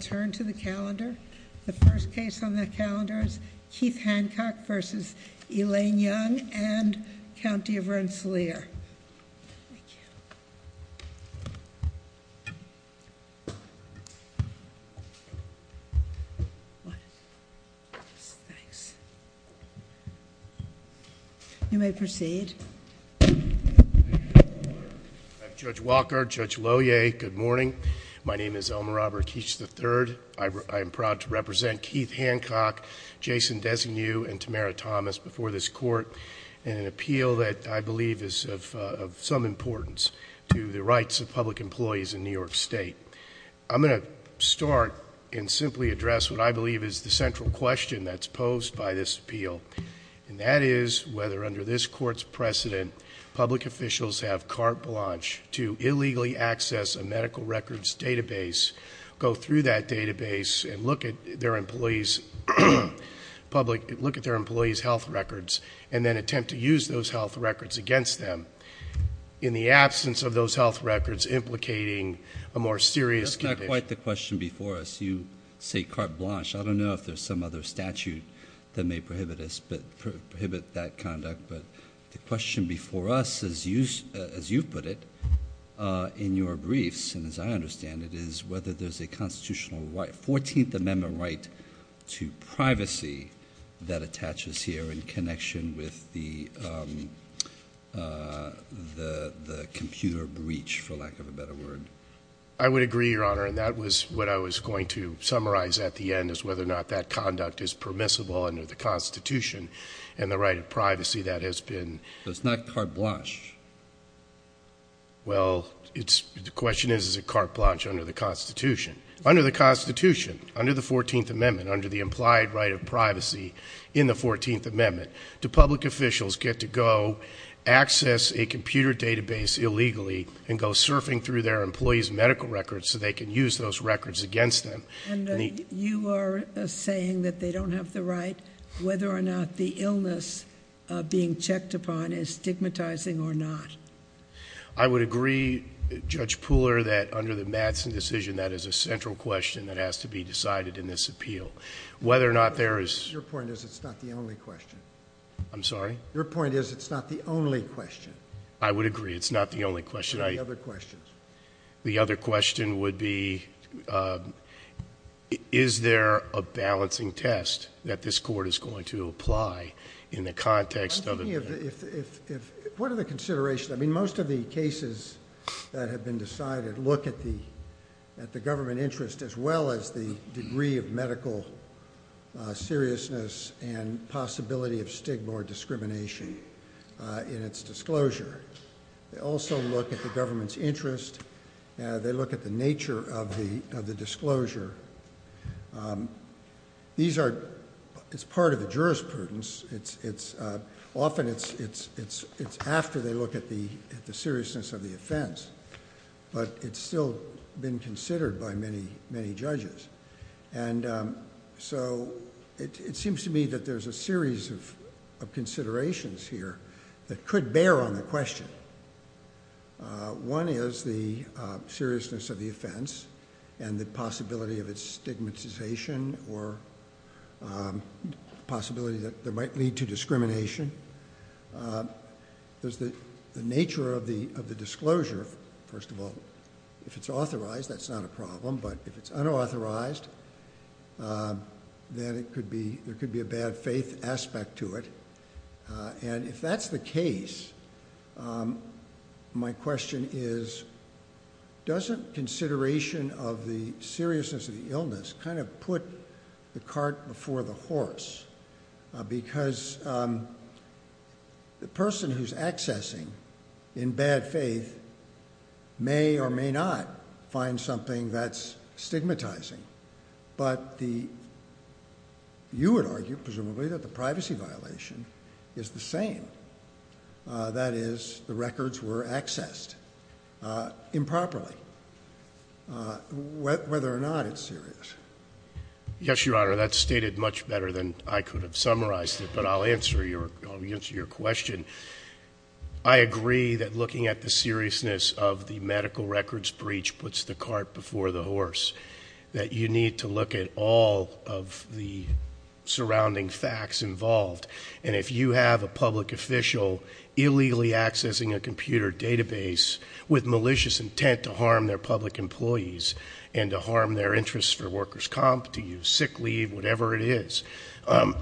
Turn to the calendar. The first case on the calendar is Keith Hancock v. Elaine Young v. County of Rensselaer. You may proceed. Judge Walker, Judge Lohier, good morning. My name is Elmer Robert Keech III. I am proud to represent Keith Hancock, Jason Designew, and Tamara Thomas before this court in an appeal that I believe is of some importance to the rights of public employees in New York State. I'm going to start and simply address what I believe is the central question that's posed by this appeal, and that is whether under this court's precedent, public officials have carte blanche to illegally access a medical records database, go through that database, and look at their employees' health records, and then attempt to use those health records against them. In the absence of those health records implicating a more serious condition. That's not quite the question before us. You say carte blanche. I don't know if there's some other statute that may prohibit that conduct. But the question before us, as you put it, in your briefs, and as I understand it, is whether there's a constitutional right, 14th Amendment right, to privacy that attaches here in connection with the computer breach, for lack of a better word. I would agree, Your Honor, and that was what I was going to summarize at the end, is whether or not that conduct is permissible under the Constitution, and the right of privacy that has been. But it's not carte blanche. Well, the question is, is it carte blanche under the Constitution? Under the Constitution, under the 14th Amendment, under the implied right of privacy in the 14th Amendment, do public officials get to go access a computer database illegally and go surfing through their employees' medical records so they can use those records against them? And you are saying that they don't have the right, whether or not the illness being checked upon is stigmatizing or not? I would agree, Judge Pooler, that under the Madsen decision, that is a central question that has to be decided in this appeal. Whether or not there is. Your point is it's not the only question. I'm sorry? Your point is it's not the only question. I would agree, it's not the only question. What are the other questions? The other question would be, is there a balancing test that this court is going to apply in the context of... What are the considerations? I mean, most of the cases that have been decided look at the government interest as well as the degree of medical seriousness and possibility of stigma or discrimination in its disclosure. They also look at the government's interest. They look at the nature of the disclosure. It's part of the jurisprudence. Often, it's after they look at the seriousness of the offense, but it's still been considered by many judges. It seems to me that there's a series of considerations here that could bear on the question. One is the seriousness of the offense and the possibility of its stigmatization or possibility that there might lead to discrimination. There's the nature of the disclosure. First of all, if it's authorized, that's not a problem, but if it's unauthorized, then there could be a bad faith aspect to it. If that's the case, my question is, doesn't consideration of the seriousness of the illness kind of put the cart before the horse? Because the person who's accessing in bad faith may or may not find something that's stigmatizing. But you would argue, presumably, that the privacy violation is the same. That is, the records were accessed improperly, whether or not it's serious. Yes, Your Honor. That's stated much better than I could have summarized it, but I'll answer your question. I agree that looking at the seriousness of the medical records breach puts the cart before the horse. That you need to look at all of the surrounding facts involved. And if you have a public official illegally accessing a computer database with malicious intent to harm their public employees, and to harm their interests for workers' comp, to use sick leave, whatever it is. I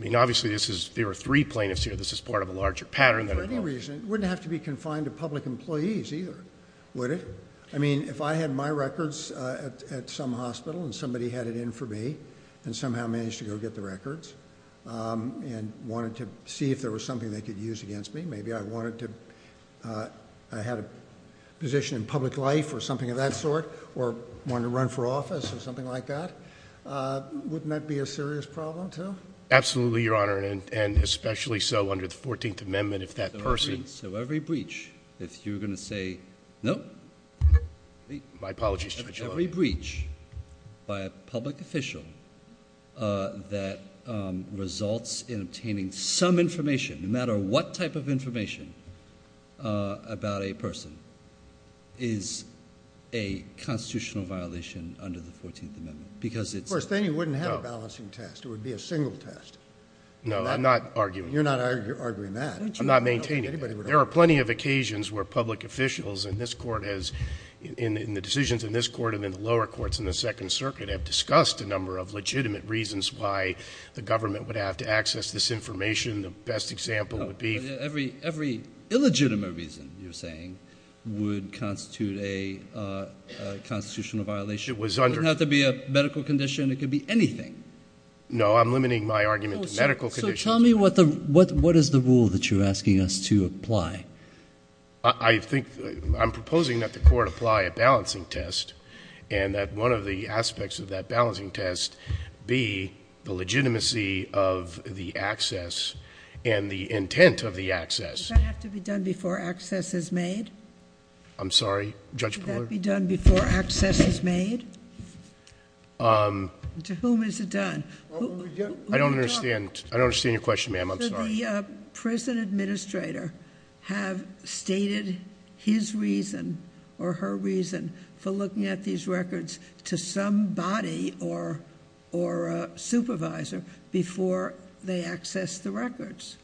mean, obviously, there are three plaintiffs here. This is part of a larger pattern. For any reason, it wouldn't have to be confined to public employees either, would it? I mean, if I had my records at some hospital, and somebody had it in for me, and somehow managed to go get the records, and wanted to see if there was something they could use against me. Maybe I had a position in public life or something of that sort, or wanted to run for office or something like that. Wouldn't that be a serious problem, too? Absolutely, Your Honor, and especially so under the 14th Amendment, if that person— So every breach, if you're going to say, no. My apologies, Mr. Vigilante. Every breach by a public official that results in obtaining some information, no matter what type of information, about a person, is a constitutional violation under the 14th Amendment. Of course, then you wouldn't have a balancing test. It would be a single test. No, I'm not arguing that. You're not arguing that. I'm not maintaining that. There are plenty of occasions where public officials in the decisions in this court and in the lower courts in the Second Circuit have discussed a number of legitimate reasons why the government would have to access this information. The best example would be— Every illegitimate reason, you're saying, would constitute a constitutional violation. It was under— It doesn't have to be a medical condition. It could be anything. No, I'm limiting my argument to medical conditions. So tell me what is the rule that you're asking us to apply? I think—I'm proposing that the court apply a balancing test and that one of the aspects of that balancing test be the legitimacy of the access and the intent of the access. Does that have to be done before access is made? I'm sorry, Judge Brewer? Does that have to be done before access is made? To whom is it done? I don't understand your question, ma'am. I'm sorry. Should the prison administrator have stated his reason or her reason for looking at these records to somebody or a supervisor before they access the records?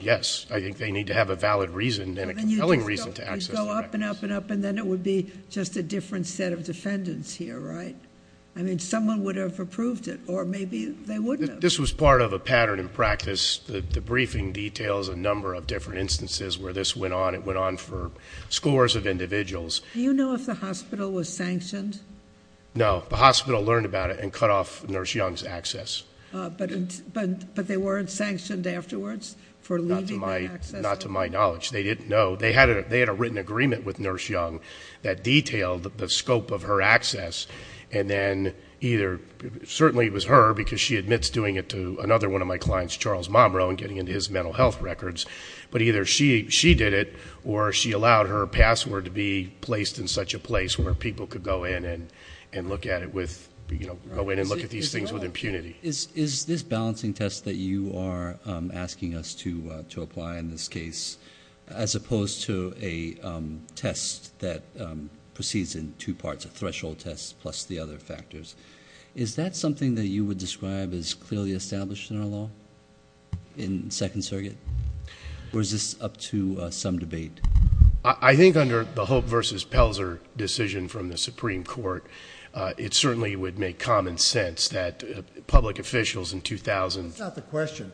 Yes. I think they need to have a valid reason and a compelling reason to access the records. You go up and up and up, and then it would be just a different set of defendants here, right? I mean, someone would have approved it, or maybe they wouldn't have. This was part of a pattern in practice. The briefing details a number of different instances where this went on. It went on for scores of individuals. Do you know if the hospital was sanctioned? No. The hospital learned about it and cut off Nurse Young's access. But they weren't sanctioned afterwards for leaving the access? Not to my knowledge. They didn't know. They had a written agreement with Nurse Young that detailed the scope of her access, and then either certainly it was her because she admits doing it to another one of my clients, Charles Momroe, and getting into his mental health records, but either she did it or she allowed her password to be placed in such a place where people could go in and look at these things with impunity. Is this balancing test that you are asking us to apply in this case, as opposed to a test that proceeds in two parts, a threshold test plus the other factors, is that something that you would describe as clearly established in our law in Second Circuit, or is this up to some debate? I think under the Hope v. Pelzer decision from the Supreme Court, it certainly would make common sense that public officials in 2000. That's not the question.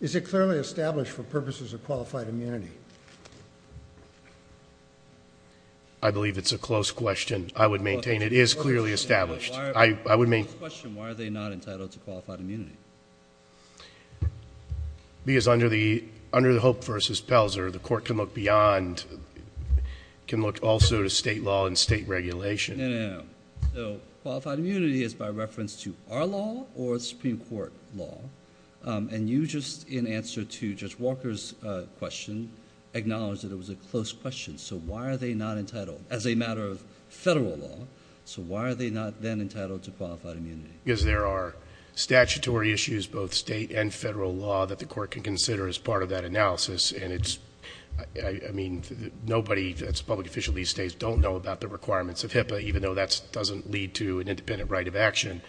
Is it clearly established for purposes of qualified immunity? I believe it's a close question. I would maintain it is clearly established. Why are they not entitled to qualified immunity? Because under the Hope v. Pelzer, the court can look beyond, can look also to state law and state regulation. No, no, no. Qualified immunity is by reference to our law or the Supreme Court law, and you just, in answer to Judge Walker's question, acknowledged that it was a close question, so why are they not entitled? As a matter of federal law, so why are they not then entitled to qualified immunity? Because there are statutory issues, both state and federal law, that the court can consider as part of that analysis, and it's, I mean, nobody that's a public official these days don't know about the requirements of HIPAA, even though that doesn't lead to an independent right of action.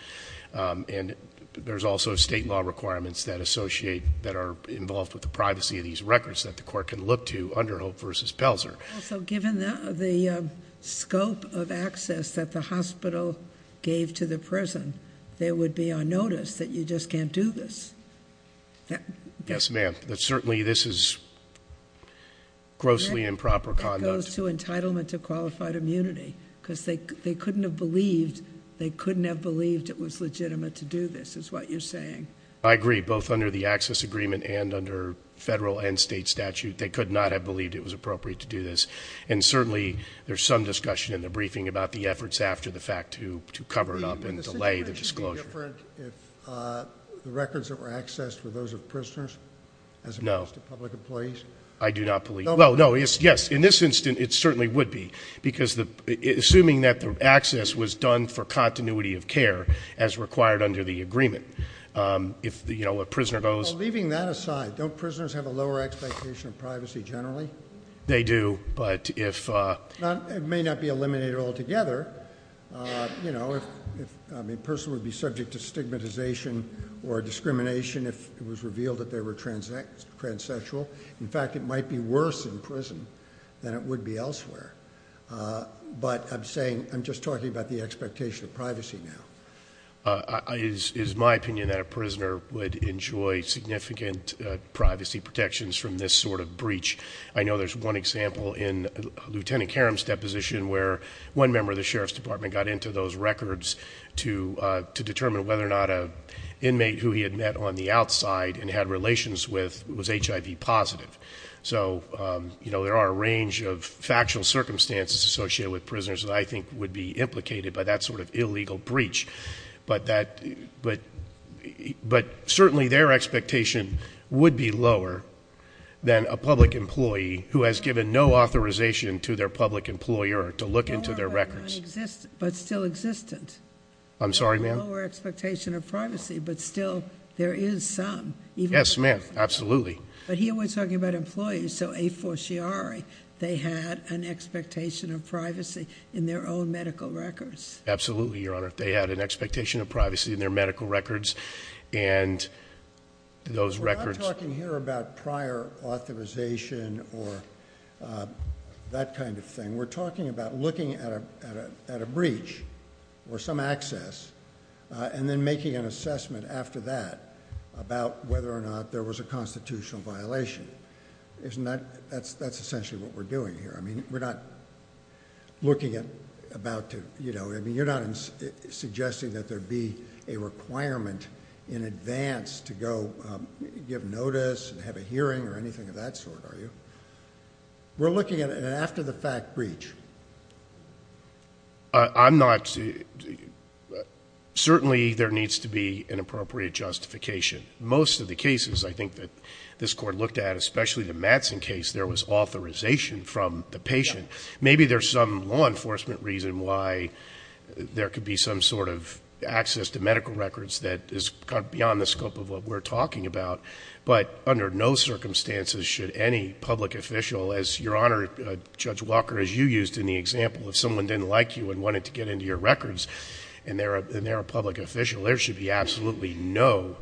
And there's also state law requirements that associate, that are involved with the privacy of these records that the court can look to under Hope v. Pelzer. Also, given the scope of access that the hospital gave to the prison, there would be a notice that you just can't do this. Yes, ma'am. Certainly this is grossly improper conduct. It goes to entitlement to qualified immunity, because they couldn't have believed, they couldn't have believed it was legitimate to do this, is what you're saying. I agree. Both under the access agreement and under federal and state statute, they could not have believed it was appropriate to do this. And certainly there's some discussion in the briefing about the efforts after the fact to cover it up and delay the disclosure. Would the situation be different if the records that were accessed were those of prisoners as opposed to public employees? No. I do not believe. Well, no, yes. In this instance, it certainly would be, because assuming that the access was done for continuity of care as required under the agreement, if, you know, a prisoner goes. Well, leaving that aside, don't prisoners have a lower expectation of privacy generally? They do, but if. It may not be eliminated altogether. You know, if a person would be subject to stigmatization or discrimination if it was revealed that they were transsexual. In fact, it might be worse in prison than it would be elsewhere. But I'm saying, I'm just talking about the expectation of privacy now. It is my opinion that a prisoner would enjoy significant privacy protections from this sort of breach. I know there's one example in Lieutenant Karam's deposition where one member of the Sheriff's Department got into those records to determine whether or not an inmate who he had met on the outside and had relations with was HIV positive. So, you know, there are a range of factual circumstances associated with prisoners that I think would be implicated by that sort of illegal breach. But certainly their expectation would be lower than a public employee who has given no authorization to their public employer to look into their records. Lower but still existent. I'm sorry, ma'am? Lower expectation of privacy, but still there is some. Yes, ma'am, absolutely. But here we're talking about employees, so a forciari. They had an expectation of privacy in their own medical records. Absolutely, Your Honor. They had an expectation of privacy in their medical records and those records. We're not talking here about prior authorization or that kind of thing. We're talking about looking at a breach or some access and then making an assessment after that about whether or not there was a constitutional violation. Isn't that? That's essentially what we're doing here. I mean, we're not looking at about to, you know, I mean, you're not suggesting that there be a requirement in advance to go give notice and have a hearing or anything of that sort, are you? We're looking at an after-the-fact breach. I'm not. Certainly there needs to be an appropriate justification. Most of the cases I think that this Court looked at, especially the Madsen case, there was authorization from the patient. Maybe there's some law enforcement reason why there could be some sort of access to medical records that is beyond the scope of what we're talking about. But under no circumstances should any public official, as Your Honor, Judge Walker, as you used in the example, if someone didn't like you and wanted to get into your records and they're a public official, there should be absolutely no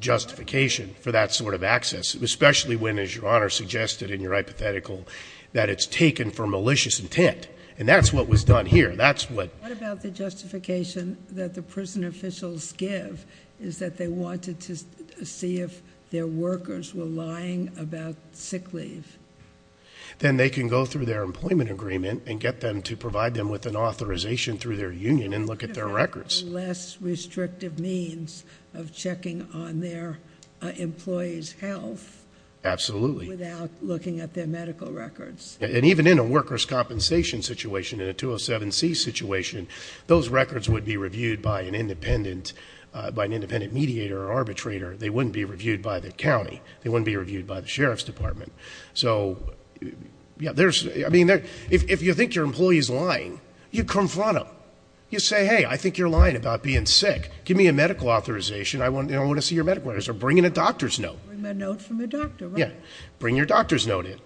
justification for that sort of access, especially when, as Your Honor suggested in your hypothetical, that it's taken for malicious intent. And that's what was done here. What about the justification that the prison officials give is that they wanted to see if their workers were lying about sick leave? Then they can go through their employment agreement and get them to provide them with an authorization through their union and look at their records. Less restrictive means of checking on their employees' health. Absolutely. Without looking at their medical records. And even in a workers' compensation situation, in a 207C situation, those records would be reviewed by an independent mediator or arbitrator. They wouldn't be reviewed by the county. They wouldn't be reviewed by the sheriff's department. If you think your employee's lying, you confront them. You say, hey, I think you're lying about being sick. Give me a medical authorization. I want to see your medical records. Or bring in a doctor's note. Bring a note from a doctor, right? Yeah. Bring your doctor's note in.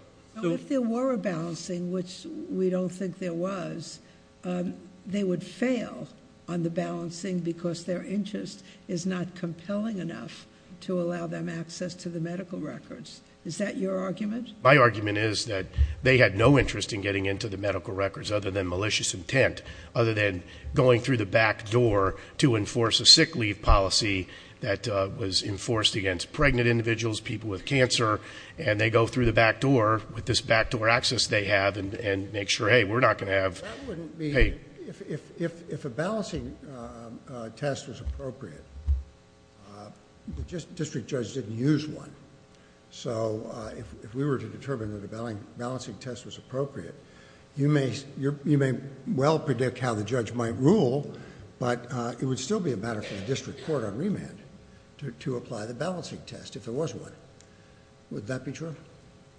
If there were a balancing, which we don't think there was, they would fail on the balancing because their interest is not compelling enough to allow them access to the medical records. Is that your argument? My argument is that they had no interest in getting into the medical records other than malicious intent, other than going through the back door to enforce a sick leave policy that was enforced against pregnant individuals, people with cancer, and they go through the back door with this back door access they have and make sure, hey, we're not going to have... That wouldn't be... Hey. If a balancing test was appropriate, the district judge didn't use one. So if we were to determine that a balancing test was appropriate, you may well predict how the judge might rule, but it would still be a matter for the district court on remand to apply the balancing test if there was one. Would that be true?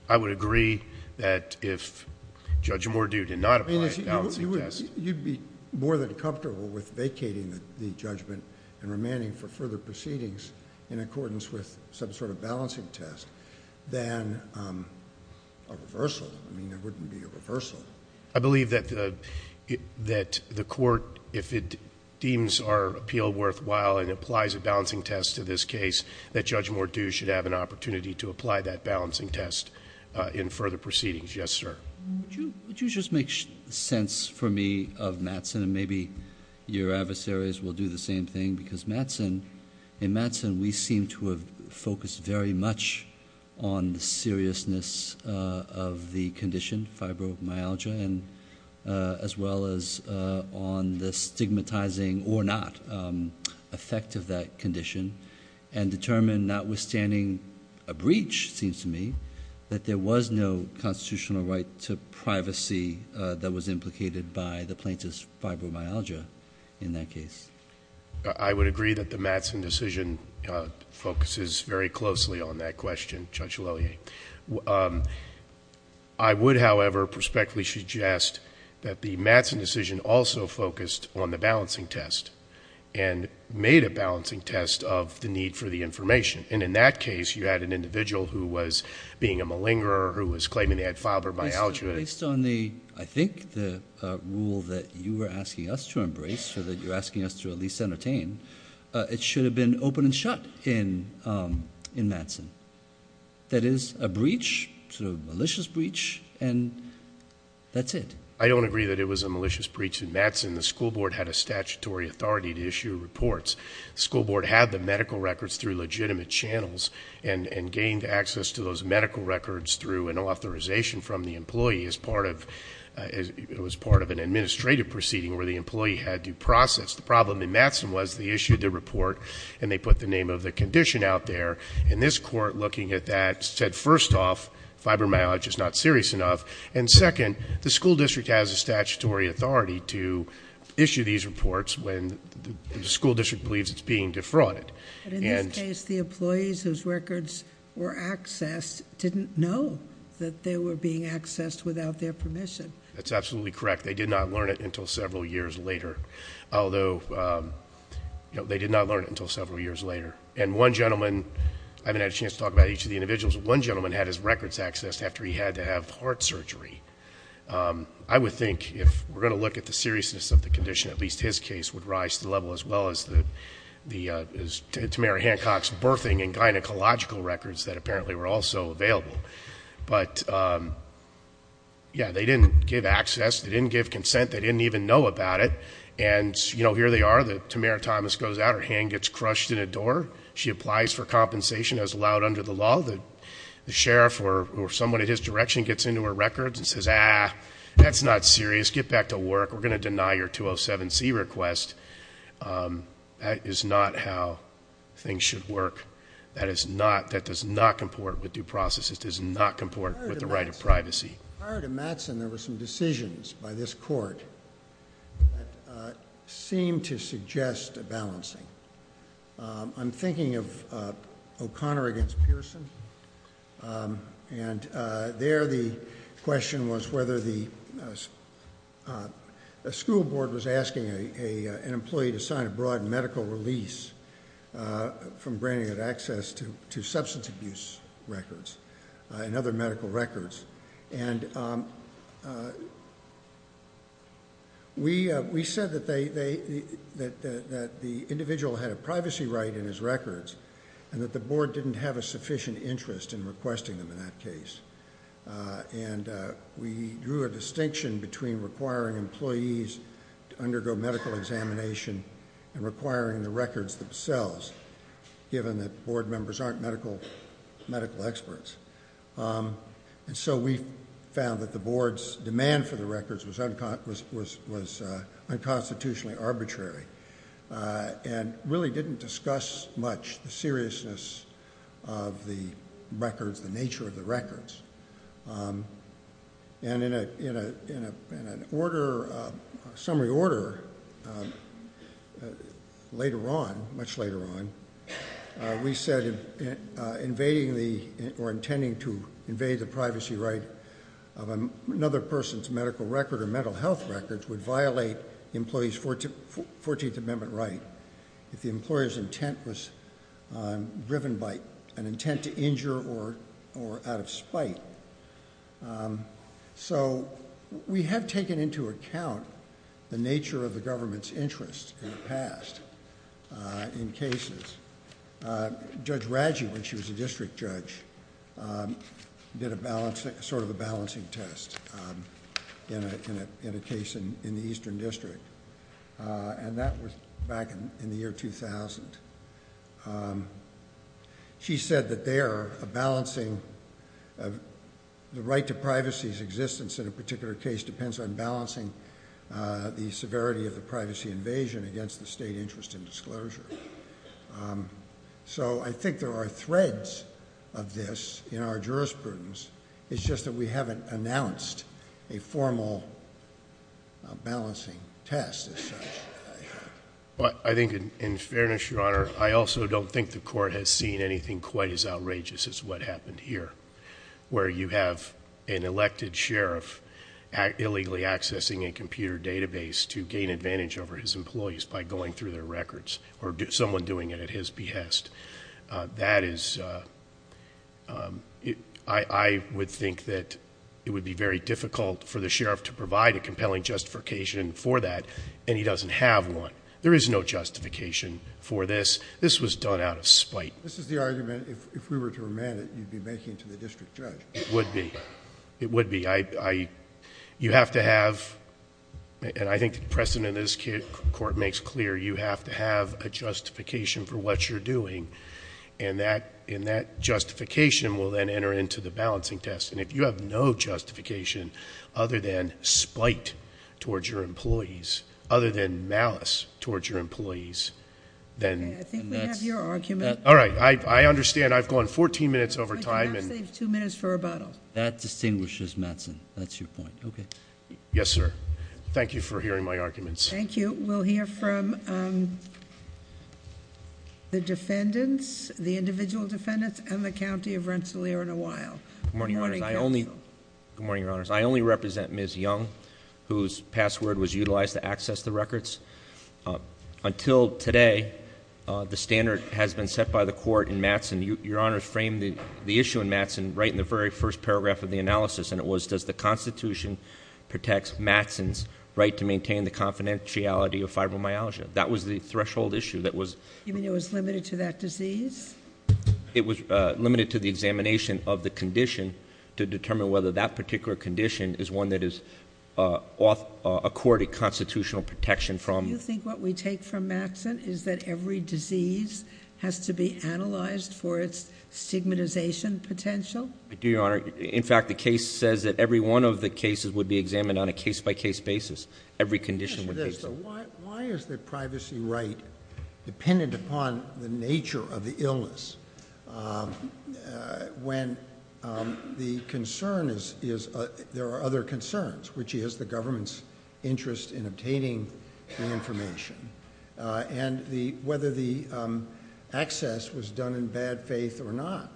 I would agree that if Judge Mordew did not apply a balancing test... You'd be more than comfortable with vacating the judgment and remanding for further proceedings in accordance with some sort of balancing test than a reversal. I mean, there wouldn't be a reversal. I believe that the court, if it deems our appeal worthwhile and applies a balancing test to this case, that Judge Mordew should have an opportunity to apply that balancing test in further proceedings. Yes, sir. Would you just make sense for me of Mattson, and maybe your adversaries will do the same thing? Because in Mattson, we seem to have focused very much on the seriousness of the condition, fibromyalgia, as well as on the stigmatizing or not effect of that condition, and determined notwithstanding a breach, it seems to me, that there was no constitutional right to privacy that was implicated by the plaintiff's fibromyalgia in that case. I would agree that the Mattson decision focuses very closely on that question, Judge Lillie. I would, however, prospectively suggest that the Mattson decision also focused on the balancing test and made a balancing test of the need for the information. And in that case, you had an individual who was being a malingerer, who was claiming they had fibromyalgia. Based on, I think, the rule that you were asking us to embrace, or that you're asking us to at least entertain, it should have been open and shut in Mattson. That is a breach, a malicious breach, and that's it. I don't agree that it was a malicious breach in Mattson. The school board had a statutory authority to issue reports. The school board had the medical records through legitimate channels and gained access to those medical records through an authorization from the employee as part of an administrative proceeding where the employee had to process. The problem in Mattson was they issued the report and they put the name of the condition out there. And this court, looking at that, said, first off, fibromyalgia is not serious enough. And second, the school district has a statutory authority to issue these reports when the school district believes it's being defrauded. But in this case, the employees whose records were accessed didn't know that they were being accessed without their permission. That's absolutely correct. They did not learn it until several years later, although they did not learn it until several years later. And one gentleman, I haven't had a chance to talk about each of the individuals, but one gentleman had his records accessed after he had to have heart surgery. I would think, if we're going to look at the seriousness of the condition, at least his case would rise to the level as well as Tamara Hancock's birthing and gynecological records that apparently were also available. But, yeah, they didn't give access. They didn't give consent. They didn't even know about it. And here they are. Tamara Thomas goes out. Her hand gets crushed in a door. She applies for compensation as allowed under the law. The sheriff or someone in his direction gets into her records and says, ah, that's not serious. Get back to work. We're going to deny your 207C request. That is not how things should work. That does not comport with due process. It does not comport with the right of privacy. Prior to Mattson, there were some decisions by this court that seemed to suggest a balancing. I'm thinking of O'Connor against Pearson. And there the question was whether the school board was asking an employee to sign a broad medical release from granting it access to substance abuse records and other medical records. And we said that the individual had a privacy right in his records and that the board didn't have a sufficient interest in requesting them in that case. And we drew a distinction between requiring employees to undergo medical examination and requiring the records themselves, given that board members aren't medical experts. And so we found that the board's demand for the records was unconstitutionally arbitrary and really didn't discuss much the seriousness of the records, the nature of the records. And in a summary order later on, much later on, we said invading or intending to invade the privacy right of another person's medical record or mental health records would violate the employee's Fourteenth Amendment right if the employer's intent was driven by an intent to injure or out of spite. So we have taken into account the nature of the government's interest in the past in cases. Judge Raggi, when she was a district judge, did sort of a balancing test in a case in the Eastern District. And that was back in the year 2000. She said that there, the right to privacy's existence in a particular case depends on balancing the severity of the privacy invasion against the state interest in disclosure. So I think there are threads of this in our jurisprudence. It's just that we haven't announced a formal balancing test as such. I think in fairness, Your Honor, I also don't think the court has seen anything quite as outrageous as what happened here, where you have an elected sheriff illegally accessing a computer database to gain advantage over his employees by going through their records or someone doing it at his behest. That is, I would think that it would be very difficult for the sheriff to provide a compelling justification for that, and he doesn't have one. There is no justification for this. This was done out of spite. This is the argument, if we were to remand it, you'd be making to the district judge. It would be. It would be. You have to have, and I think the precedent in this court makes clear, you have to have a justification for what you're doing. And that justification will then enter into the balancing test. And if you have no justification other than spite towards your employees, other than malice towards your employees, then... Okay. I think we have your argument. All right. I understand. I've gone 14 minutes over time. But you have saved two minutes for rebuttal. That distinguishes Mattson. That's your point. Okay. Yes, sir. Thank you for hearing my arguments. Thank you. We'll hear from the defendants, the individual defendants, and the county of Rensselaer in a while. Good morning, Your Honors. I only... Good morning, Your Honors. I only represent Ms. Young, whose password was utilized to access the records. Until today, the standard has been set by the court in Mattson. Your Honors framed the issue in Mattson right in the very first paragraph of the analysis. And it was, does the Constitution protect Mattson's right to maintain the confidentiality of fibromyalgia? That was the threshold issue that was... You mean it was limited to that disease? It was limited to the examination of the condition to determine whether that particular condition is one that is constitutional protection from... Do you think what we take from Mattson is that every disease has to be analyzed for its stigmatization potential? I do, Your Honor. In fact, the case says that every one of the cases would be examined on a case-by-case basis. Every condition would be... Why is the privacy right dependent upon the nature of the illness when the concern is... There are other concerns, which is the government's interest in obtaining the information, and whether the access was done in bad faith or not.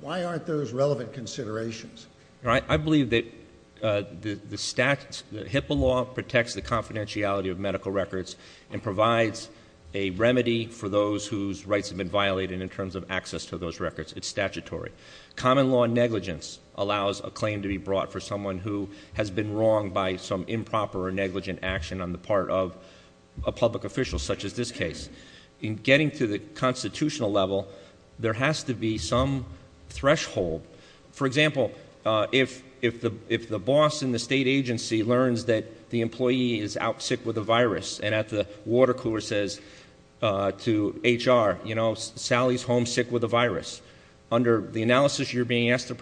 Why aren't those relevant considerations? I believe that HIPAA law protects the confidentiality of medical records and provides a remedy for those whose rights have been violated in terms of access to those records. It's statutory. Common law negligence allows a claim to be brought for someone who has been wronged by some improper or negligent action on the part of a public official, such as this case. In getting to the constitutional level, there has to be some threshold. For example, if the boss in the state agency learns that the employee is out sick with a virus, and at the water cooler says to HR, you know, Sally's homesick with a virus, under the analysis you're being asked to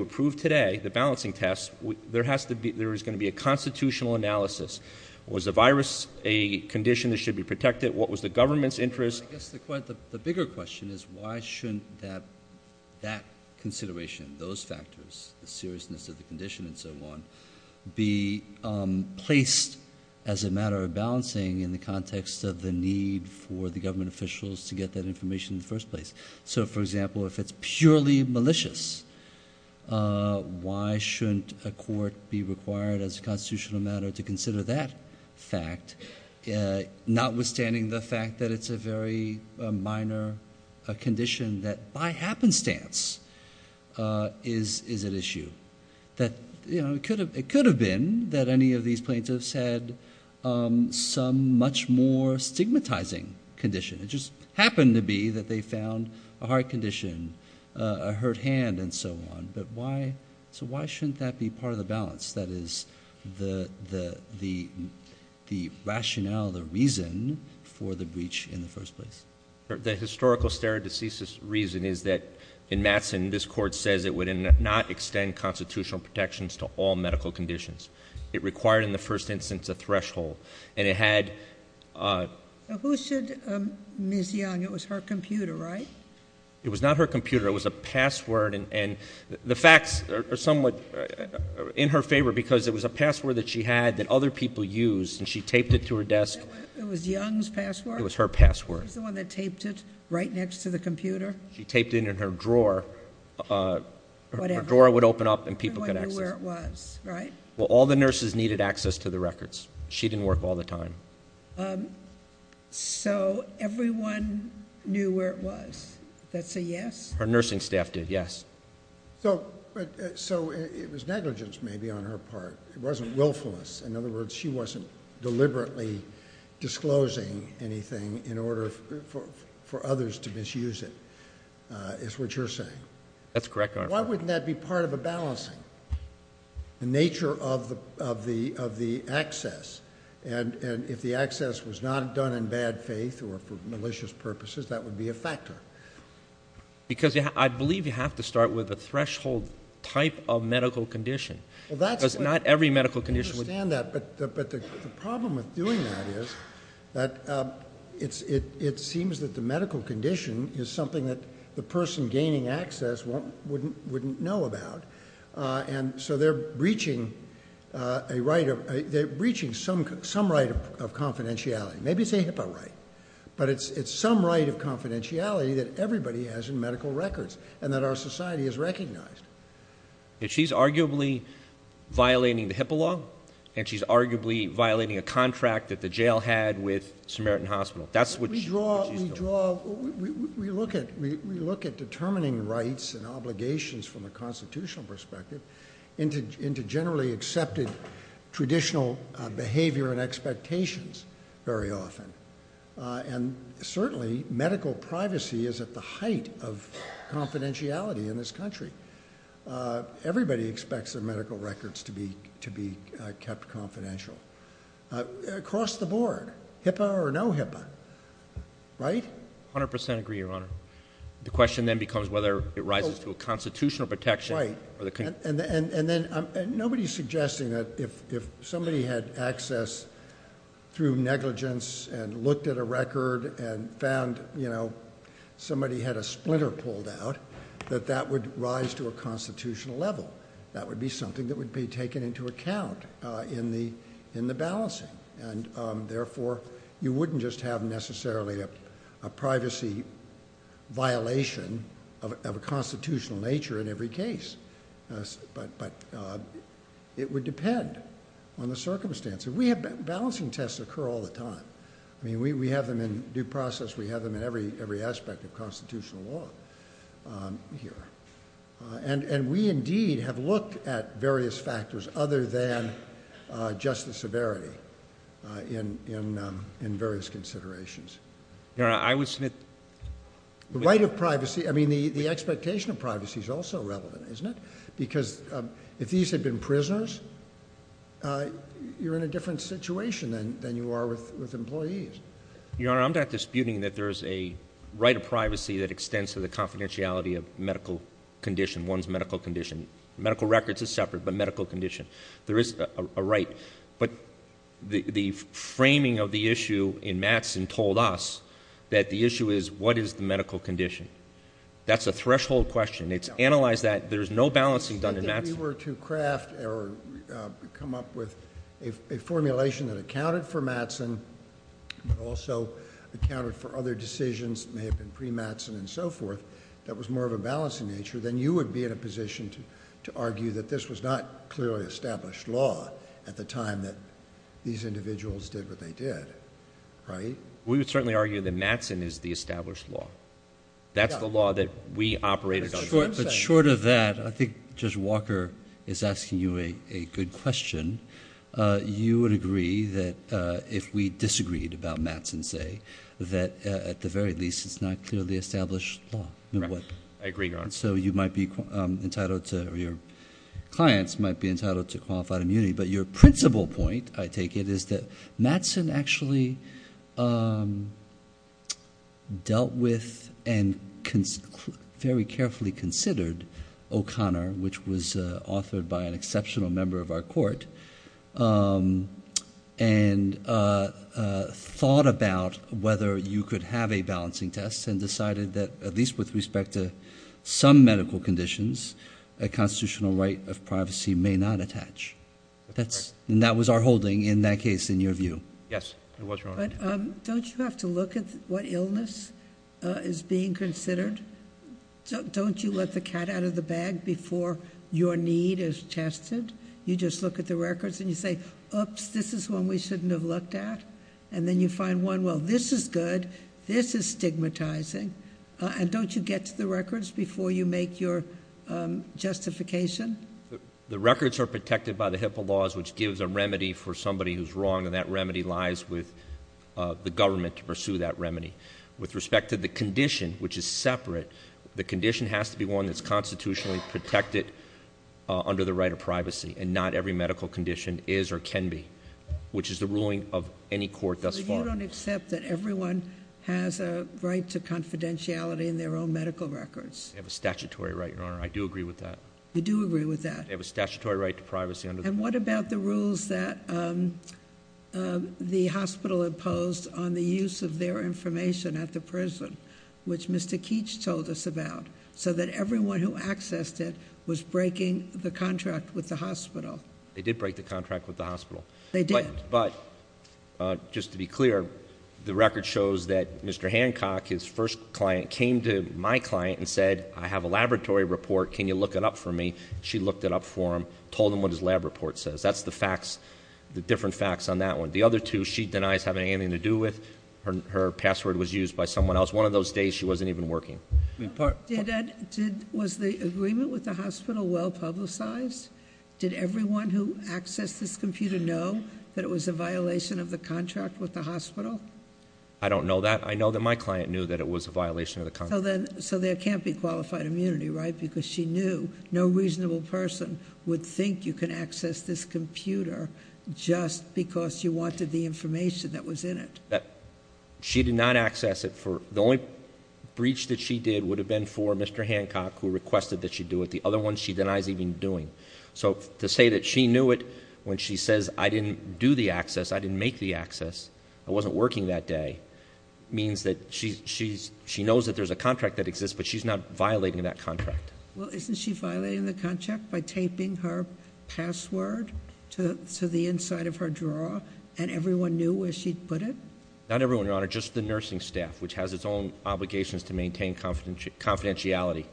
approve today, the balancing test, there is going to be a constitutional analysis. Was the virus a condition that should be protected? What was the government's interest? The bigger question is why shouldn't that consideration, those factors, the seriousness of the condition and so on, be placed as a matter of balancing in the context of the need for the government officials to get that information in the first place? So, for example, if it's purely malicious, why shouldn't a court be required as a constitutional matter to consider that fact, notwithstanding the fact that it's a very minor condition that, by happenstance, is at issue? It could have been that any of these plaintiffs had some much more stigmatizing condition. It just happened to be that they found a heart condition, a hurt hand, and so on. So why shouldn't that be part of the balance, that is, the rationale, the reason for the breach in the first place? The historical stare decisis reason is that, in Matson, this court says it would not extend constitutional protections to all medical conditions. It required, in the first instance, a threshold, and it had... Who said Ms. Young? It was her computer, right? It was not her computer. It was a password, and the facts are somewhat in her favor because it was a password that she had that other people used, and she taped it to her desk. It was Young's password? It was her password. She's the one that taped it right next to the computer? She taped it in her drawer. Her drawer would open up and people could access it. Everyone knew where it was, right? Well, all the nurses needed access to the records. She didn't work all the time. So everyone knew where it was. That's a yes? Her nursing staff did, yes. So it was negligence, maybe, on her part. It wasn't willfulness. In other words, she wasn't deliberately disclosing anything in order for others to misuse it, is what you're saying. That's correct, Your Honor. Why wouldn't that be part of a balancing, the nature of the access? And if the access was not done in bad faith or for malicious purposes, that would be a factor. Because I believe you have to start with a threshold type of medical condition. Because not every medical condition would be. I understand that. But the problem with doing that is that it seems that the medical condition is something that the person gaining access wouldn't know about. And so they're breaching some right of confidentiality. Maybe it's a HIPAA right. But it's some right of confidentiality that everybody has in medical records and that our society has recognized. And she's arguably violating the HIPAA law. And she's arguably violating a contract that the jail had with Samaritan Hospital. That's what she's doing. We draw, we look at determining rights and obligations from a constitutional perspective into generally accepted traditional behavior and expectations very often. And certainly medical privacy is at the height of confidentiality in this country. Everybody expects their medical records to be kept confidential. Across the board, HIPAA or no HIPAA, right? 100% agree, Your Honor. The question then becomes whether it rises to a constitutional protection. Right. And nobody's suggesting that if somebody had access through negligence and looked at a record and found, you know, somebody had a splinter pulled out, that that would rise to a constitutional level. That would be something that would be taken into account in the balancing. And therefore, you wouldn't just have necessarily a privacy violation of a constitutional nature in every case. But it would depend on the circumstances. We have balancing tests occur all the time. I mean, we have them in due process. We have them in every aspect of constitutional law here. And we indeed have looked at various factors other than justice severity in various considerations. Your Honor, I would submit— The right of privacy—I mean, the expectation of privacy is also relevant, isn't it? Because if these had been prisoners, you're in a different situation than you are with employees. Your Honor, I'm not disputing that there is a right of privacy that extends to the confidentiality of medical condition. One's medical condition. Medical records are separate, but medical condition. There is a right. But the framing of the issue in Mattson told us that the issue is what is the medical condition. That's a threshold question. It's analyzed that. There is no balancing done in Mattson. If we were to craft or come up with a formulation that accounted for Mattson but also accounted for other decisions that may have been pre-Mattson and so forth that was more of a balancing nature, then you would be in a position to argue that this was not clearly established law at the time that these individuals did what they did, right? We would certainly argue that Mattson is the established law. That's the law that we operated under. But short of that, I think Judge Walker is asking you a good question. You would agree that if we disagreed about Mattson, say, that at the very least it's not clearly established law. I agree, Your Honor. So you might be entitled to or your clients might be entitled to qualified immunity. But your principal point, I take it, is that Mattson actually dealt with and very carefully considered O'Connor, which was authored by an exceptional member of our court, and thought about whether you could have a balancing test and decided that, at least with respect to some medical conditions, a constitutional right of privacy may not attach. And that was our holding in that case, in your view. Yes, it was, Your Honor. Don't you have to look at what illness is being considered? Don't you let the cat out of the bag before your need is tested? You just look at the records and you say, oops, this is one we shouldn't have looked at. And then you find one, well, this is good, this is stigmatizing. And don't you get to the records before you make your justification? The records are protected by the HIPAA laws, which gives a remedy for somebody who's wrong, and that remedy lies with the government to pursue that remedy. With respect to the condition, which is separate, the condition has to be one that's constitutionally protected under the right of privacy, and not every medical condition is or can be, which is the ruling of any court thus far. So you don't accept that everyone has a right to confidentiality in their own medical records? They have a statutory right, Your Honor. I do agree with that. You do agree with that? They have a statutory right to privacy under the law. And what about the rules that the hospital imposed on the use of their information at the prison, which Mr. Keech told us about, so that everyone who accessed it was breaking the contract with the hospital? They did break the contract with the hospital. They did. But just to be clear, the record shows that Mr. Hancock, his first client, came to my client and said, I have a laboratory report, can you look it up for me? She looked it up for him, told him what his lab report says. That's the facts, the different facts on that one. The other two, she denies having anything to do with, her password was used by someone else. That's one of those days she wasn't even working. Was the agreement with the hospital well publicized? Did everyone who accessed this computer know that it was a violation of the contract with the hospital? I don't know that. I know that my client knew that it was a violation of the contract. So there can't be qualified immunity, right? Because she knew no reasonable person would think you can access this computer just because you wanted the information that was in it. She did not access it. The only breach that she did would have been for Mr. Hancock who requested that she do it. The other one she denies even doing. So to say that she knew it when she says, I didn't do the access, I didn't make the access, I wasn't working that day, means that she knows that there's a contract that exists, but she's not violating that contract. Well, isn't she violating the contract by taping her password to the inside of her drawer and everyone knew where she'd put it? Not everyone, Your Honor. Just the nursing staff, which has its own obligations to maintain confidentiality.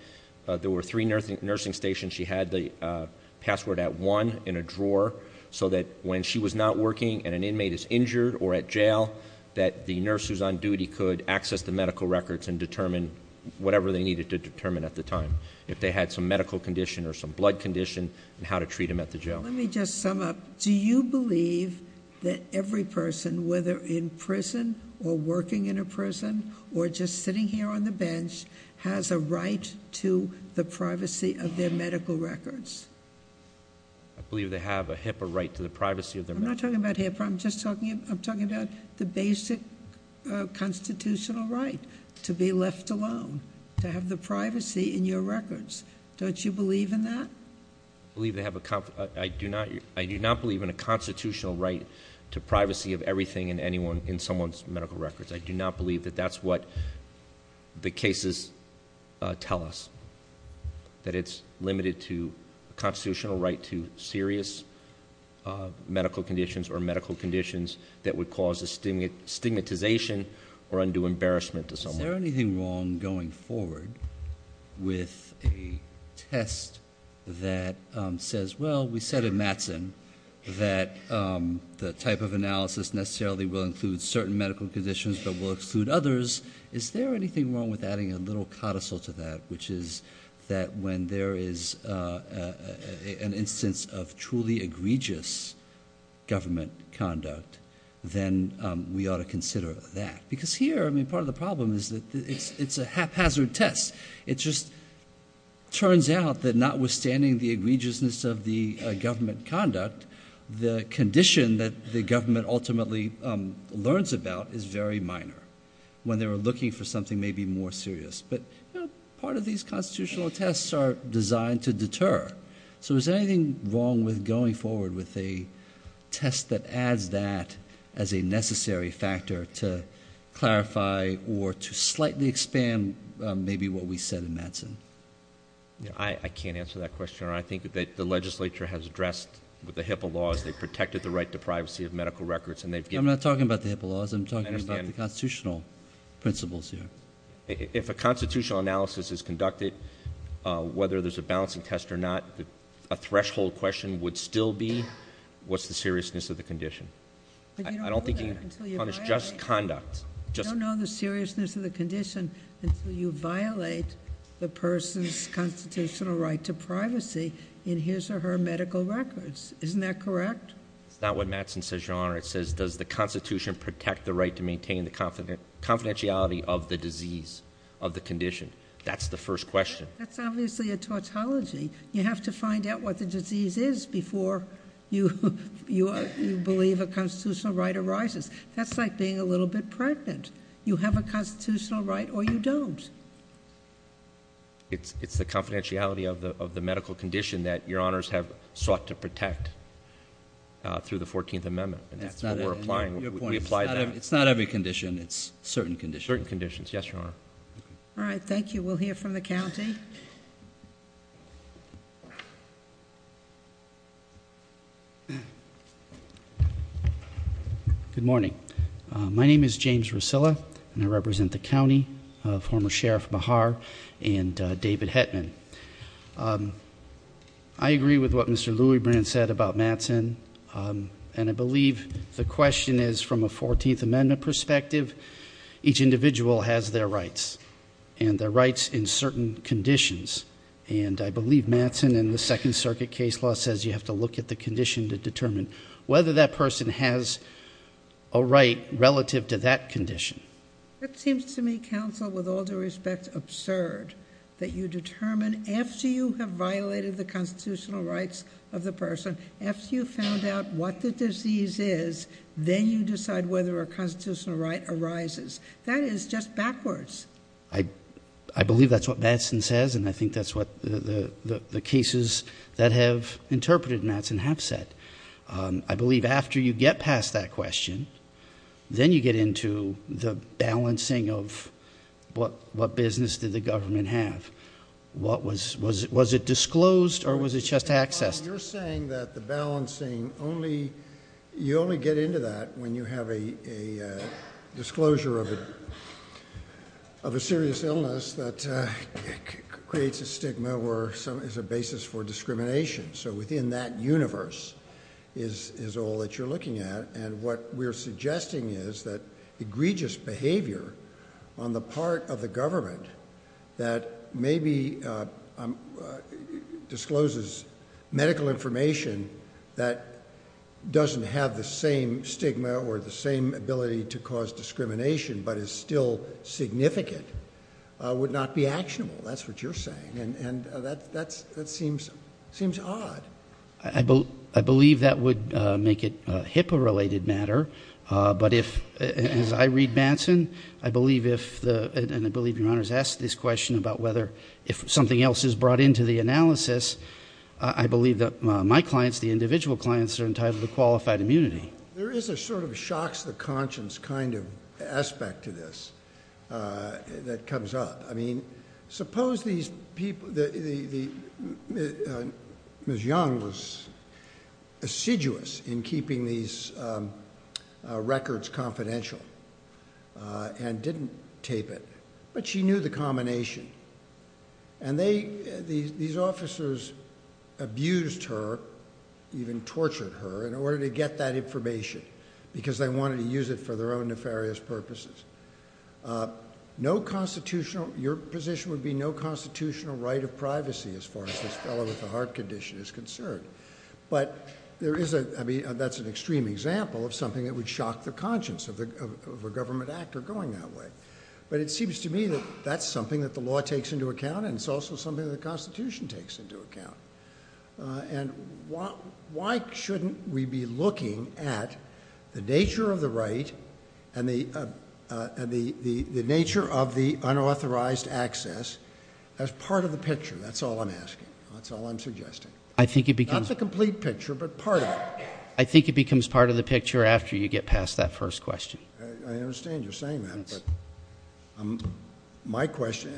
There were three nursing stations. She had the password at one in a drawer so that when she was not working and an inmate is injured or at jail that the nurse who's on duty could access the medical records and determine whatever they needed to determine at the time, if they had some medical condition or some blood condition and how to treat them at the jail. Let me just sum up. Do you believe that every person, whether in prison or working in a prison or just sitting here on the bench, has a right to the privacy of their medical records? I believe they have a HIPAA right to the privacy of their medical records. I'm not talking about HIPAA. I'm just talking about the basic constitutional right to be left alone, to have the privacy in your records. Don't you believe in that? I do not believe in a constitutional right to privacy of everything and anyone in someone's medical records. I do not believe that that's what the cases tell us, that it's limited to a constitutional right to serious medical conditions or medical conditions that would cause a stigmatization or undue embarrassment to someone. Is there anything wrong going forward with a test that says, well, we said in Mattson that the type of analysis necessarily will include certain medical conditions but will exclude others. Is there anything wrong with adding a little codicil to that, which is that when there is an instance of truly egregious government conduct, then we ought to consider that? Because here part of the problem is that it's a haphazard test. It just turns out that notwithstanding the egregiousness of the government conduct, the condition that the government ultimately learns about is very minor when they were looking for something maybe more serious. But part of these constitutional tests are designed to deter. So is there anything wrong with going forward with a test that adds that as a necessary factor to clarify or to slightly expand maybe what we said in Mattson? I can't answer that question. I think that the legislature has addressed the HIPAA laws. They've protected the right to privacy of medical records. I'm not talking about the HIPAA laws. I'm talking about the constitutional principles here. If a constitutional analysis is conducted, whether there's a balancing test or not, a threshold question would still be what's the seriousness of the condition? I don't think you can punish just conduct. You don't know the seriousness of the condition until you violate the person's constitutional right to privacy in his or her medical records. Isn't that correct? It's not what Mattson says, Your Honor. It says does the Constitution protect the right to maintain the confidentiality of the disease of the condition? That's the first question. That's obviously a tautology. You have to find out what the disease is before you believe a constitutional right arises. That's like being a little bit pregnant. You have a constitutional right or you don't. It's the confidentiality of the medical condition that Your Honors have sought to protect through the 14th Amendment. That's what we're applying. We apply that. It's not every condition. It's certain conditions. Certain conditions. Yes, Your Honor. All right, thank you. We'll hear from the county. Good morning. My name is James Rosilla, and I represent the county of former Sheriff Mehar and David Hetman. I agree with what Mr. Louisbrand said about Mattson, and I believe the question is from a 14th Amendment perspective, each individual has their rights, and their rights in certain conditions. And I believe Mattson in the Second Circuit case law says you have to look at the condition to determine whether that person has a right relative to that condition. It seems to me, counsel, with all due respect, absurd that you determine, after you have violated the constitutional rights of the person, after you've found out what the disease is, then you decide whether a constitutional right arises. That is just backwards. I believe that's what Mattson says, and I think that's what the cases that have interpreted Mattson have said. I believe after you get past that question, then you get into the balancing of what business did the government have. Was it disclosed, or was it just accessed? You're saying that the balancing, you only get into that when you have a disclosure of a serious illness that creates a stigma or is a basis for discrimination. So within that universe is all that you're looking at, and what we're suggesting is that egregious behavior on the part of the government that maybe discloses medical information that doesn't have the same stigma or the same ability to cause discrimination, but is still significant, would not be actionable. That's what you're saying, and that seems odd. I believe that would make it HIPAA-related matter, but as I read Mattson, and I believe your Honor has asked this question, about whether if something else is brought into the analysis, I believe that my clients, the individual clients, are entitled to qualified immunity. There is a sort of shocks the conscience kind of aspect to this that comes up. Suppose these people, Ms. Young was assiduous in keeping these records confidential and didn't tape it, but she knew the combination. These officers abused her, even tortured her, in order to get that information because they wanted to use it for their own nefarious purposes. Your position would be no constitutional right of privacy as far as this fellow with the heart condition is concerned, but that's an extreme example of something that would shock the conscience of a government actor going that way. But it seems to me that that's something that the law takes into account and it's also something that the Constitution takes into account. And why shouldn't we be looking at the nature of the right and the nature of the unauthorized access as part of the picture? That's all I'm asking. That's all I'm suggesting. Not the complete picture, but part of it. I think it becomes part of the picture after you get past that first question. I understand you're saying that,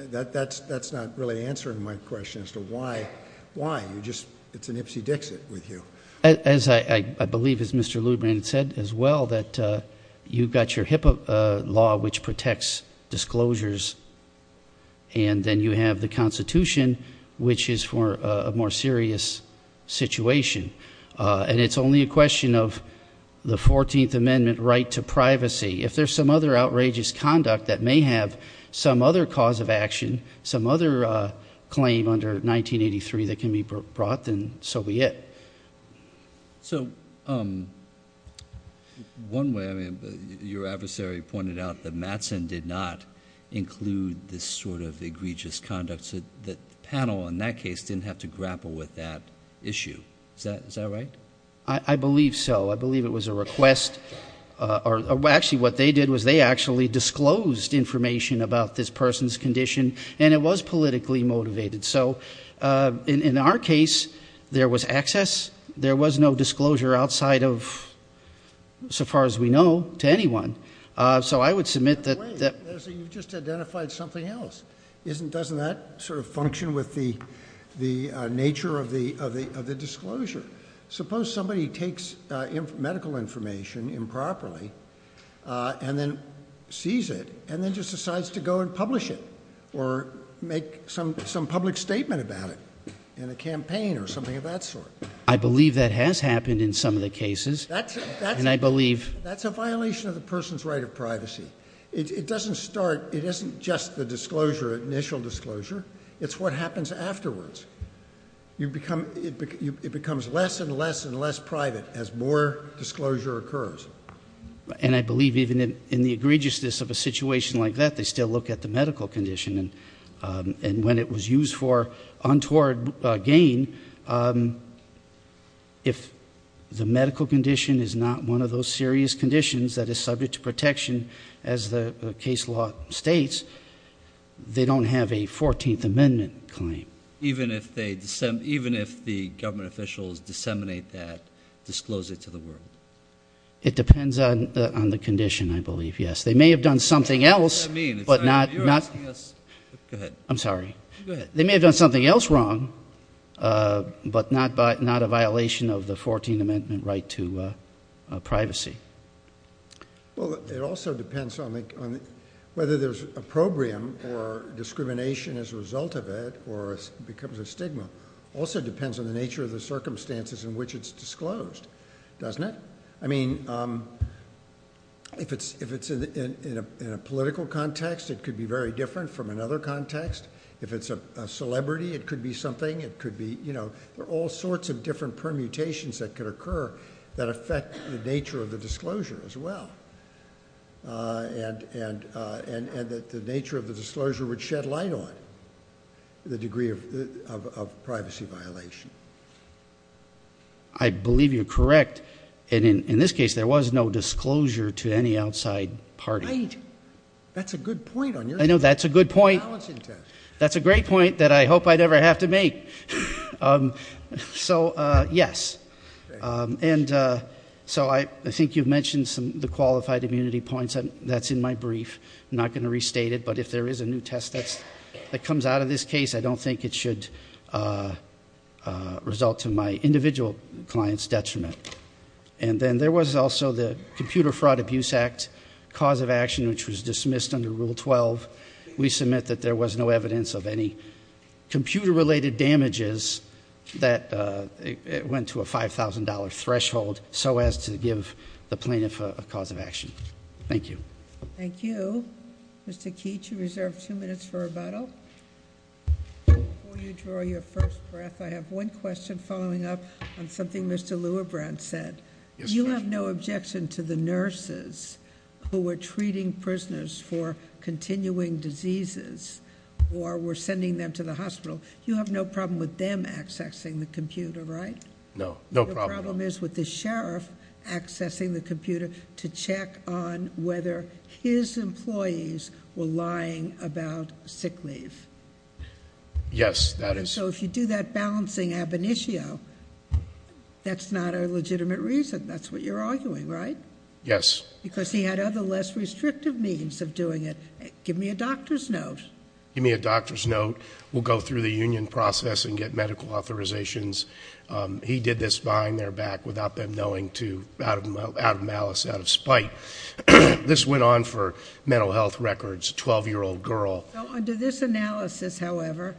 but that's not really answering my question as to why it's an ipsy-dixit with you. I believe, as Mr. Luderman said as well, that you've got your HIPAA law, which protects disclosures, and then you have the Constitution, which is for a more serious situation. And it's only a question of the 14th Amendment right to privacy. If there's some other outrageous conduct that may have some other cause of action, some other claim under 1983 that can be brought, then so be it. So one way, I mean, your adversary pointed out that Matson did not include this sort of egregious conduct, so the panel in that case didn't have to grapple with that issue. Is that right? I believe so. I believe it was a request. Actually, what they did was they actually disclosed information about this person's condition, and it was politically motivated. So in our case, there was access. There was no disclosure outside of, so far as we know, to anyone. So I would submit that... Wait, you've just identified something else. Doesn't that sort of function with the nature of the disclosure? Suppose somebody takes medical information improperly and then sees it and then just decides to go and publish it or make some public statement about it in a campaign or something of that sort. I believe that has happened in some of the cases, and I believe... That's a violation of the person's right of privacy. It doesn't start, it isn't just the disclosure, initial disclosure. It's what happens afterwards. It becomes less and less and less private as more disclosure occurs. And I believe even in the egregiousness of a situation like that, they still look at the medical condition. And when it was used for untoward gain, if the medical condition is not one of those serious conditions that is subject to protection, as the case law states, they don't have a 14th Amendment claim. Even if the government officials disseminate that disclosure to the world? It depends on the condition, I believe, yes. They may have done something else, but not... I'm sorry. They may have done something else wrong, but not a violation of the 14th Amendment right to privacy. Well, it also depends on whether there's opprobrium or discrimination as a result of it or it becomes a stigma. It also depends on the nature of the circumstances in which it's disclosed. Doesn't it? I mean, if it's in a political context, it could be very different from another context. If it's a celebrity, it could be something. There are all sorts of different permutations that could occur that affect the nature of the disclosure as well. And the nature of the disclosure would shed light on the degree of privacy violation. I believe you're correct. In this case, there was no disclosure to any outside party. Right. That's a good point. I know that's a good point. That's a great point that I hope I'd ever have to make. So, yes. And so I think you've mentioned the qualified immunity points. That's in my brief. I'm not going to restate it, but if there is a new test that comes out of this case, I don't think it should result in my individual client's detriment. And then there was also the Computer Fraud Abuse Act cause of action, which was dismissed under Rule 12. We submit that there was no evidence of any computer-related damages that went to a $5,000 threshold so as to give the plaintiff a cause of action. Thank you. Thank you. Mr. Keech, you reserve two minutes for rebuttal. Before you draw your first breath, I have one question following up on something Mr. Lewebrand said. You have no objection to the nurses who were treating prisoners for continuing diseases or were sending them to the hospital. You have no problem with them accessing the computer, right? No. No problem at all. to check on whether his employees were lying about sick leave. Yes, that is. So if you do that balancing ab initio, that's not a legitimate reason. That's what you're arguing, right? Yes. Because he had other less restrictive means of doing it. Give me a doctor's note. Give me a doctor's note. We'll go through the union process and get medical authorizations. He did this behind their back without them knowing, out of malice, out of spite. This went on for mental health records, a 12-year-old girl. Under this analysis, however,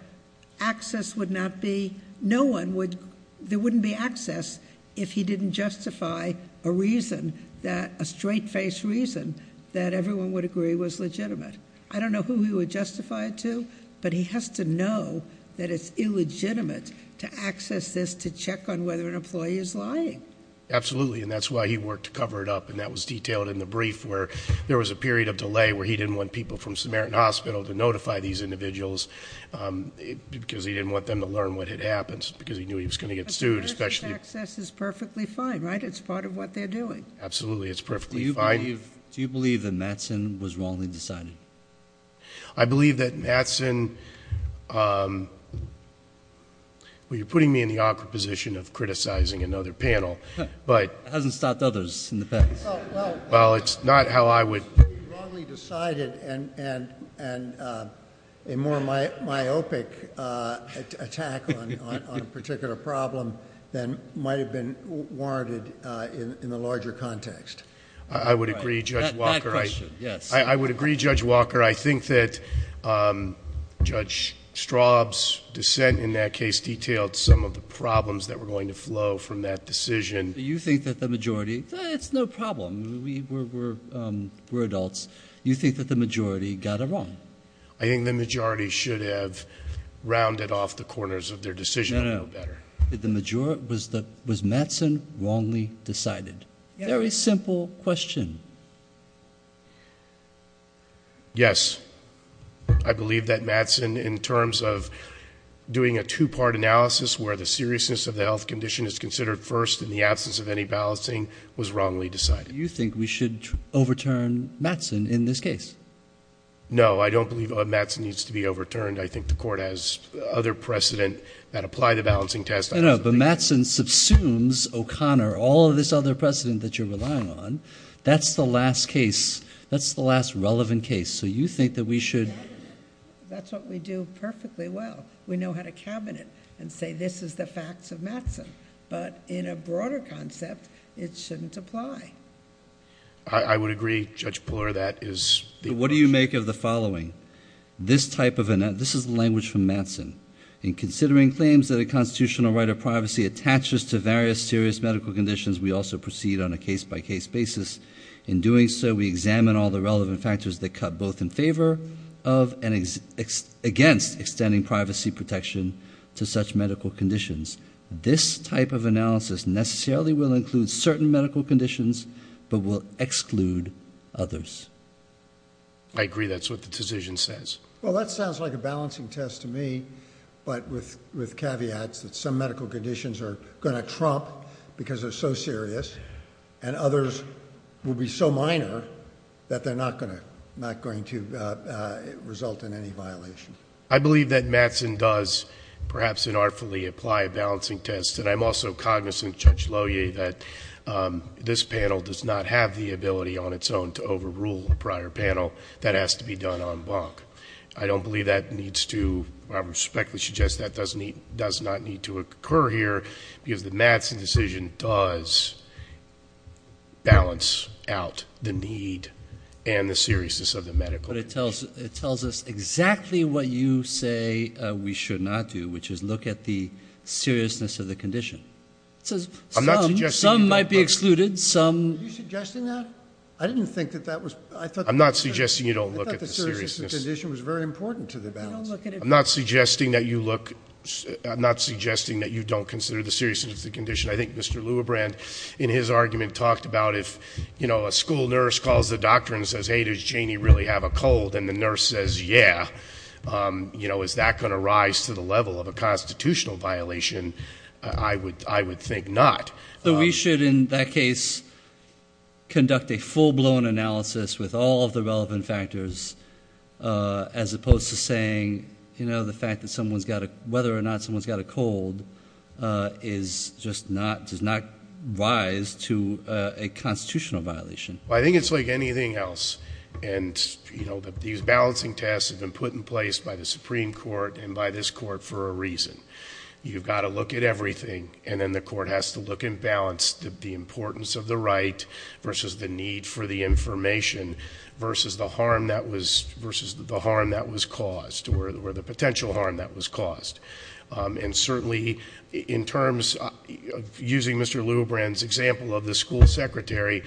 access would not be, no one would, there wouldn't be access if he didn't justify a reason that, a straight-faced reason that everyone would agree was legitimate. I don't know who he would justify it to, but he has to know that it's illegitimate to access this to check on whether an employee is lying. Absolutely, and that's why he worked to cover it up, and that was detailed in the brief where there was a period of delay where he didn't want people from Samaritan Hospital to notify these individuals because he didn't want them to learn what had happened because he knew he was going to get sued. But the person's access is perfectly fine, right? It's part of what they're doing. Absolutely, it's perfectly fine. Do you believe that Matson was wrongly decided? I believe that Matson, well, you're putting me in the awkward position of criticizing another panel, but... It hasn't stopped others in the past. Well, it's not how I would...... wrongly decided and a more myopic attack on a particular problem than might have been warranted in the larger context. I would agree, Judge Walker. That question, yes. I would agree, Judge Walker. I think that Judge Straub's dissent in that case detailed some of the problems that were going to flow from that decision. Do you think that the majority... It's no problem. We're adults. Do you think that the majority got it wrong? I think the majority should have rounded off the corners of their decision a little better. Was Matson wrongly decided? Very simple question. Yes. I believe that Matson, in terms of doing a two-part analysis where the seriousness of the health condition is considered first in the absence of any balancing, was wrongly decided. Do you think we should overturn Matson in this case? No, I don't believe Matson needs to be overturned. I think the Court has other precedent that apply the balancing test... No, no, but Matson subsumes O'Connor, all of this other precedent that you're relying on. That's the last case. That's the last relevant case. So you think that we should... That's what we do perfectly well. We know how to cabinet and say this is the facts of Matson. But in a broader concept, it shouldn't apply. I would agree. Judge Puller, that is... What do you make of the following? This type of... This is the language from Matson. In considering claims that a constitutional right of privacy attaches to various serious medical conditions, we also proceed on a case-by-case basis. In doing so, we examine all the relevant factors that cut both in favor of and against extending privacy protection to such medical conditions. This type of analysis necessarily will include certain medical conditions, but will exclude others. I agree that's what the decision says. Well, that sounds like a balancing test to me, but with caveats that some medical conditions are going to trump because they're so serious, and others will be so minor that they're not going to result in any violation. I believe that Matson does, perhaps inartfully, apply a balancing test. And I'm also cognizant, Judge Lowy, that this panel does not have the ability on its own to overrule a prior panel. That has to be done en banc. I don't believe that needs to... I respectfully suggest that does not need to occur here because the Matson decision does balance out the need and the seriousness of the medical condition. But it tells us exactly what you say we should not do, which is look at the seriousness of the condition. Some might be excluded. Are you suggesting that? I didn't think that that was... I'm not suggesting you don't look at the seriousness. I thought the seriousness of the condition was very important to the balance. I'm not suggesting that you look... I'm not suggesting that you don't consider the seriousness of the condition. I think Mr. Lewebrand, in his argument, talked about if, you know, a school nurse calls the doctor and says, Hey, does Janie really have a cold? And the nurse says, Yeah. You know, is that going to rise to the level of a constitutional violation? I would think not. We should, in that case, conduct a full-blown analysis with all of the relevant factors as opposed to saying, you know, the fact that someone's got a... whether or not someone's got a cold is just not... does not rise to a constitutional violation. I think it's like anything else. And, you know, these balancing tests have been put in place by the Supreme Court and by this court for a reason. You've got to look at everything, and then the court has to look and balance the importance of the right versus the need for the information versus the harm that was caused or the potential harm that was caused. And certainly, in terms of using Mr. Lewebrand's example of the school secretary,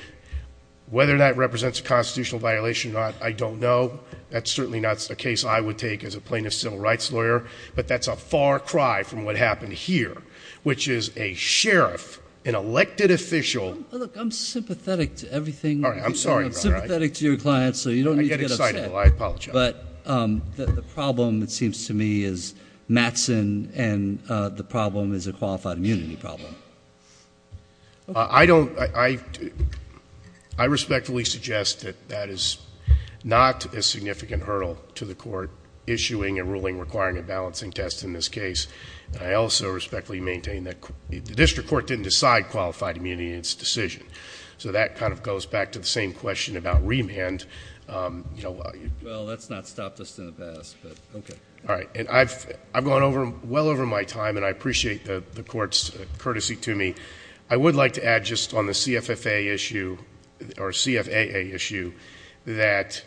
whether that represents a constitutional violation or not, I don't know. That's certainly not a case I would take as a plaintiff's civil rights lawyer, but that's a far cry from what happened here, which is a sheriff, an elected official... Look, I'm sympathetic to everything... I'm sorry. I'm sorry, Your Honor. I'm sympathetic to your client, so you don't need to get upset. I get excited. Well, I apologize. But the problem, it seems to me, is Mattson, and the problem is a qualified immunity problem. I don't... I respectfully suggest that that is not a significant hurdle to the court issuing a ruling requiring a balancing test in this case. I also respectfully maintain that the district court didn't decide qualified immunity in its decision. So that kind of goes back to the same question about remand. Well, that's not stopped us in the past, but... okay. All right. And I've gone over... well over my time, and I appreciate the court's courtesy to me. I would like to add just on the CFFA issue, or CFAA issue, that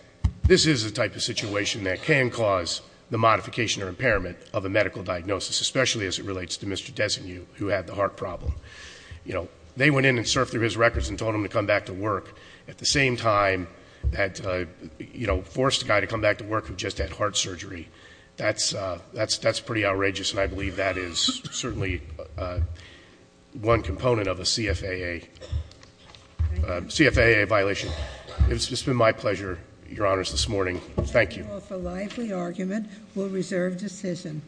this is the type of situation that can cause the modification or impairment of a medical diagnosis, especially as it relates to Mr. Desenu, who had the heart problem. You know, they went in and surfed through his records and told him to come back to work, at the same time that, you know, forced a guy to come back to work who just had heart surgery. That's pretty outrageous, and I believe that is certainly one component of a CFAA violation. It's just been my pleasure, Your Honors, this morning. Thank you. Thank you all for a lively argument. We'll reserve decision.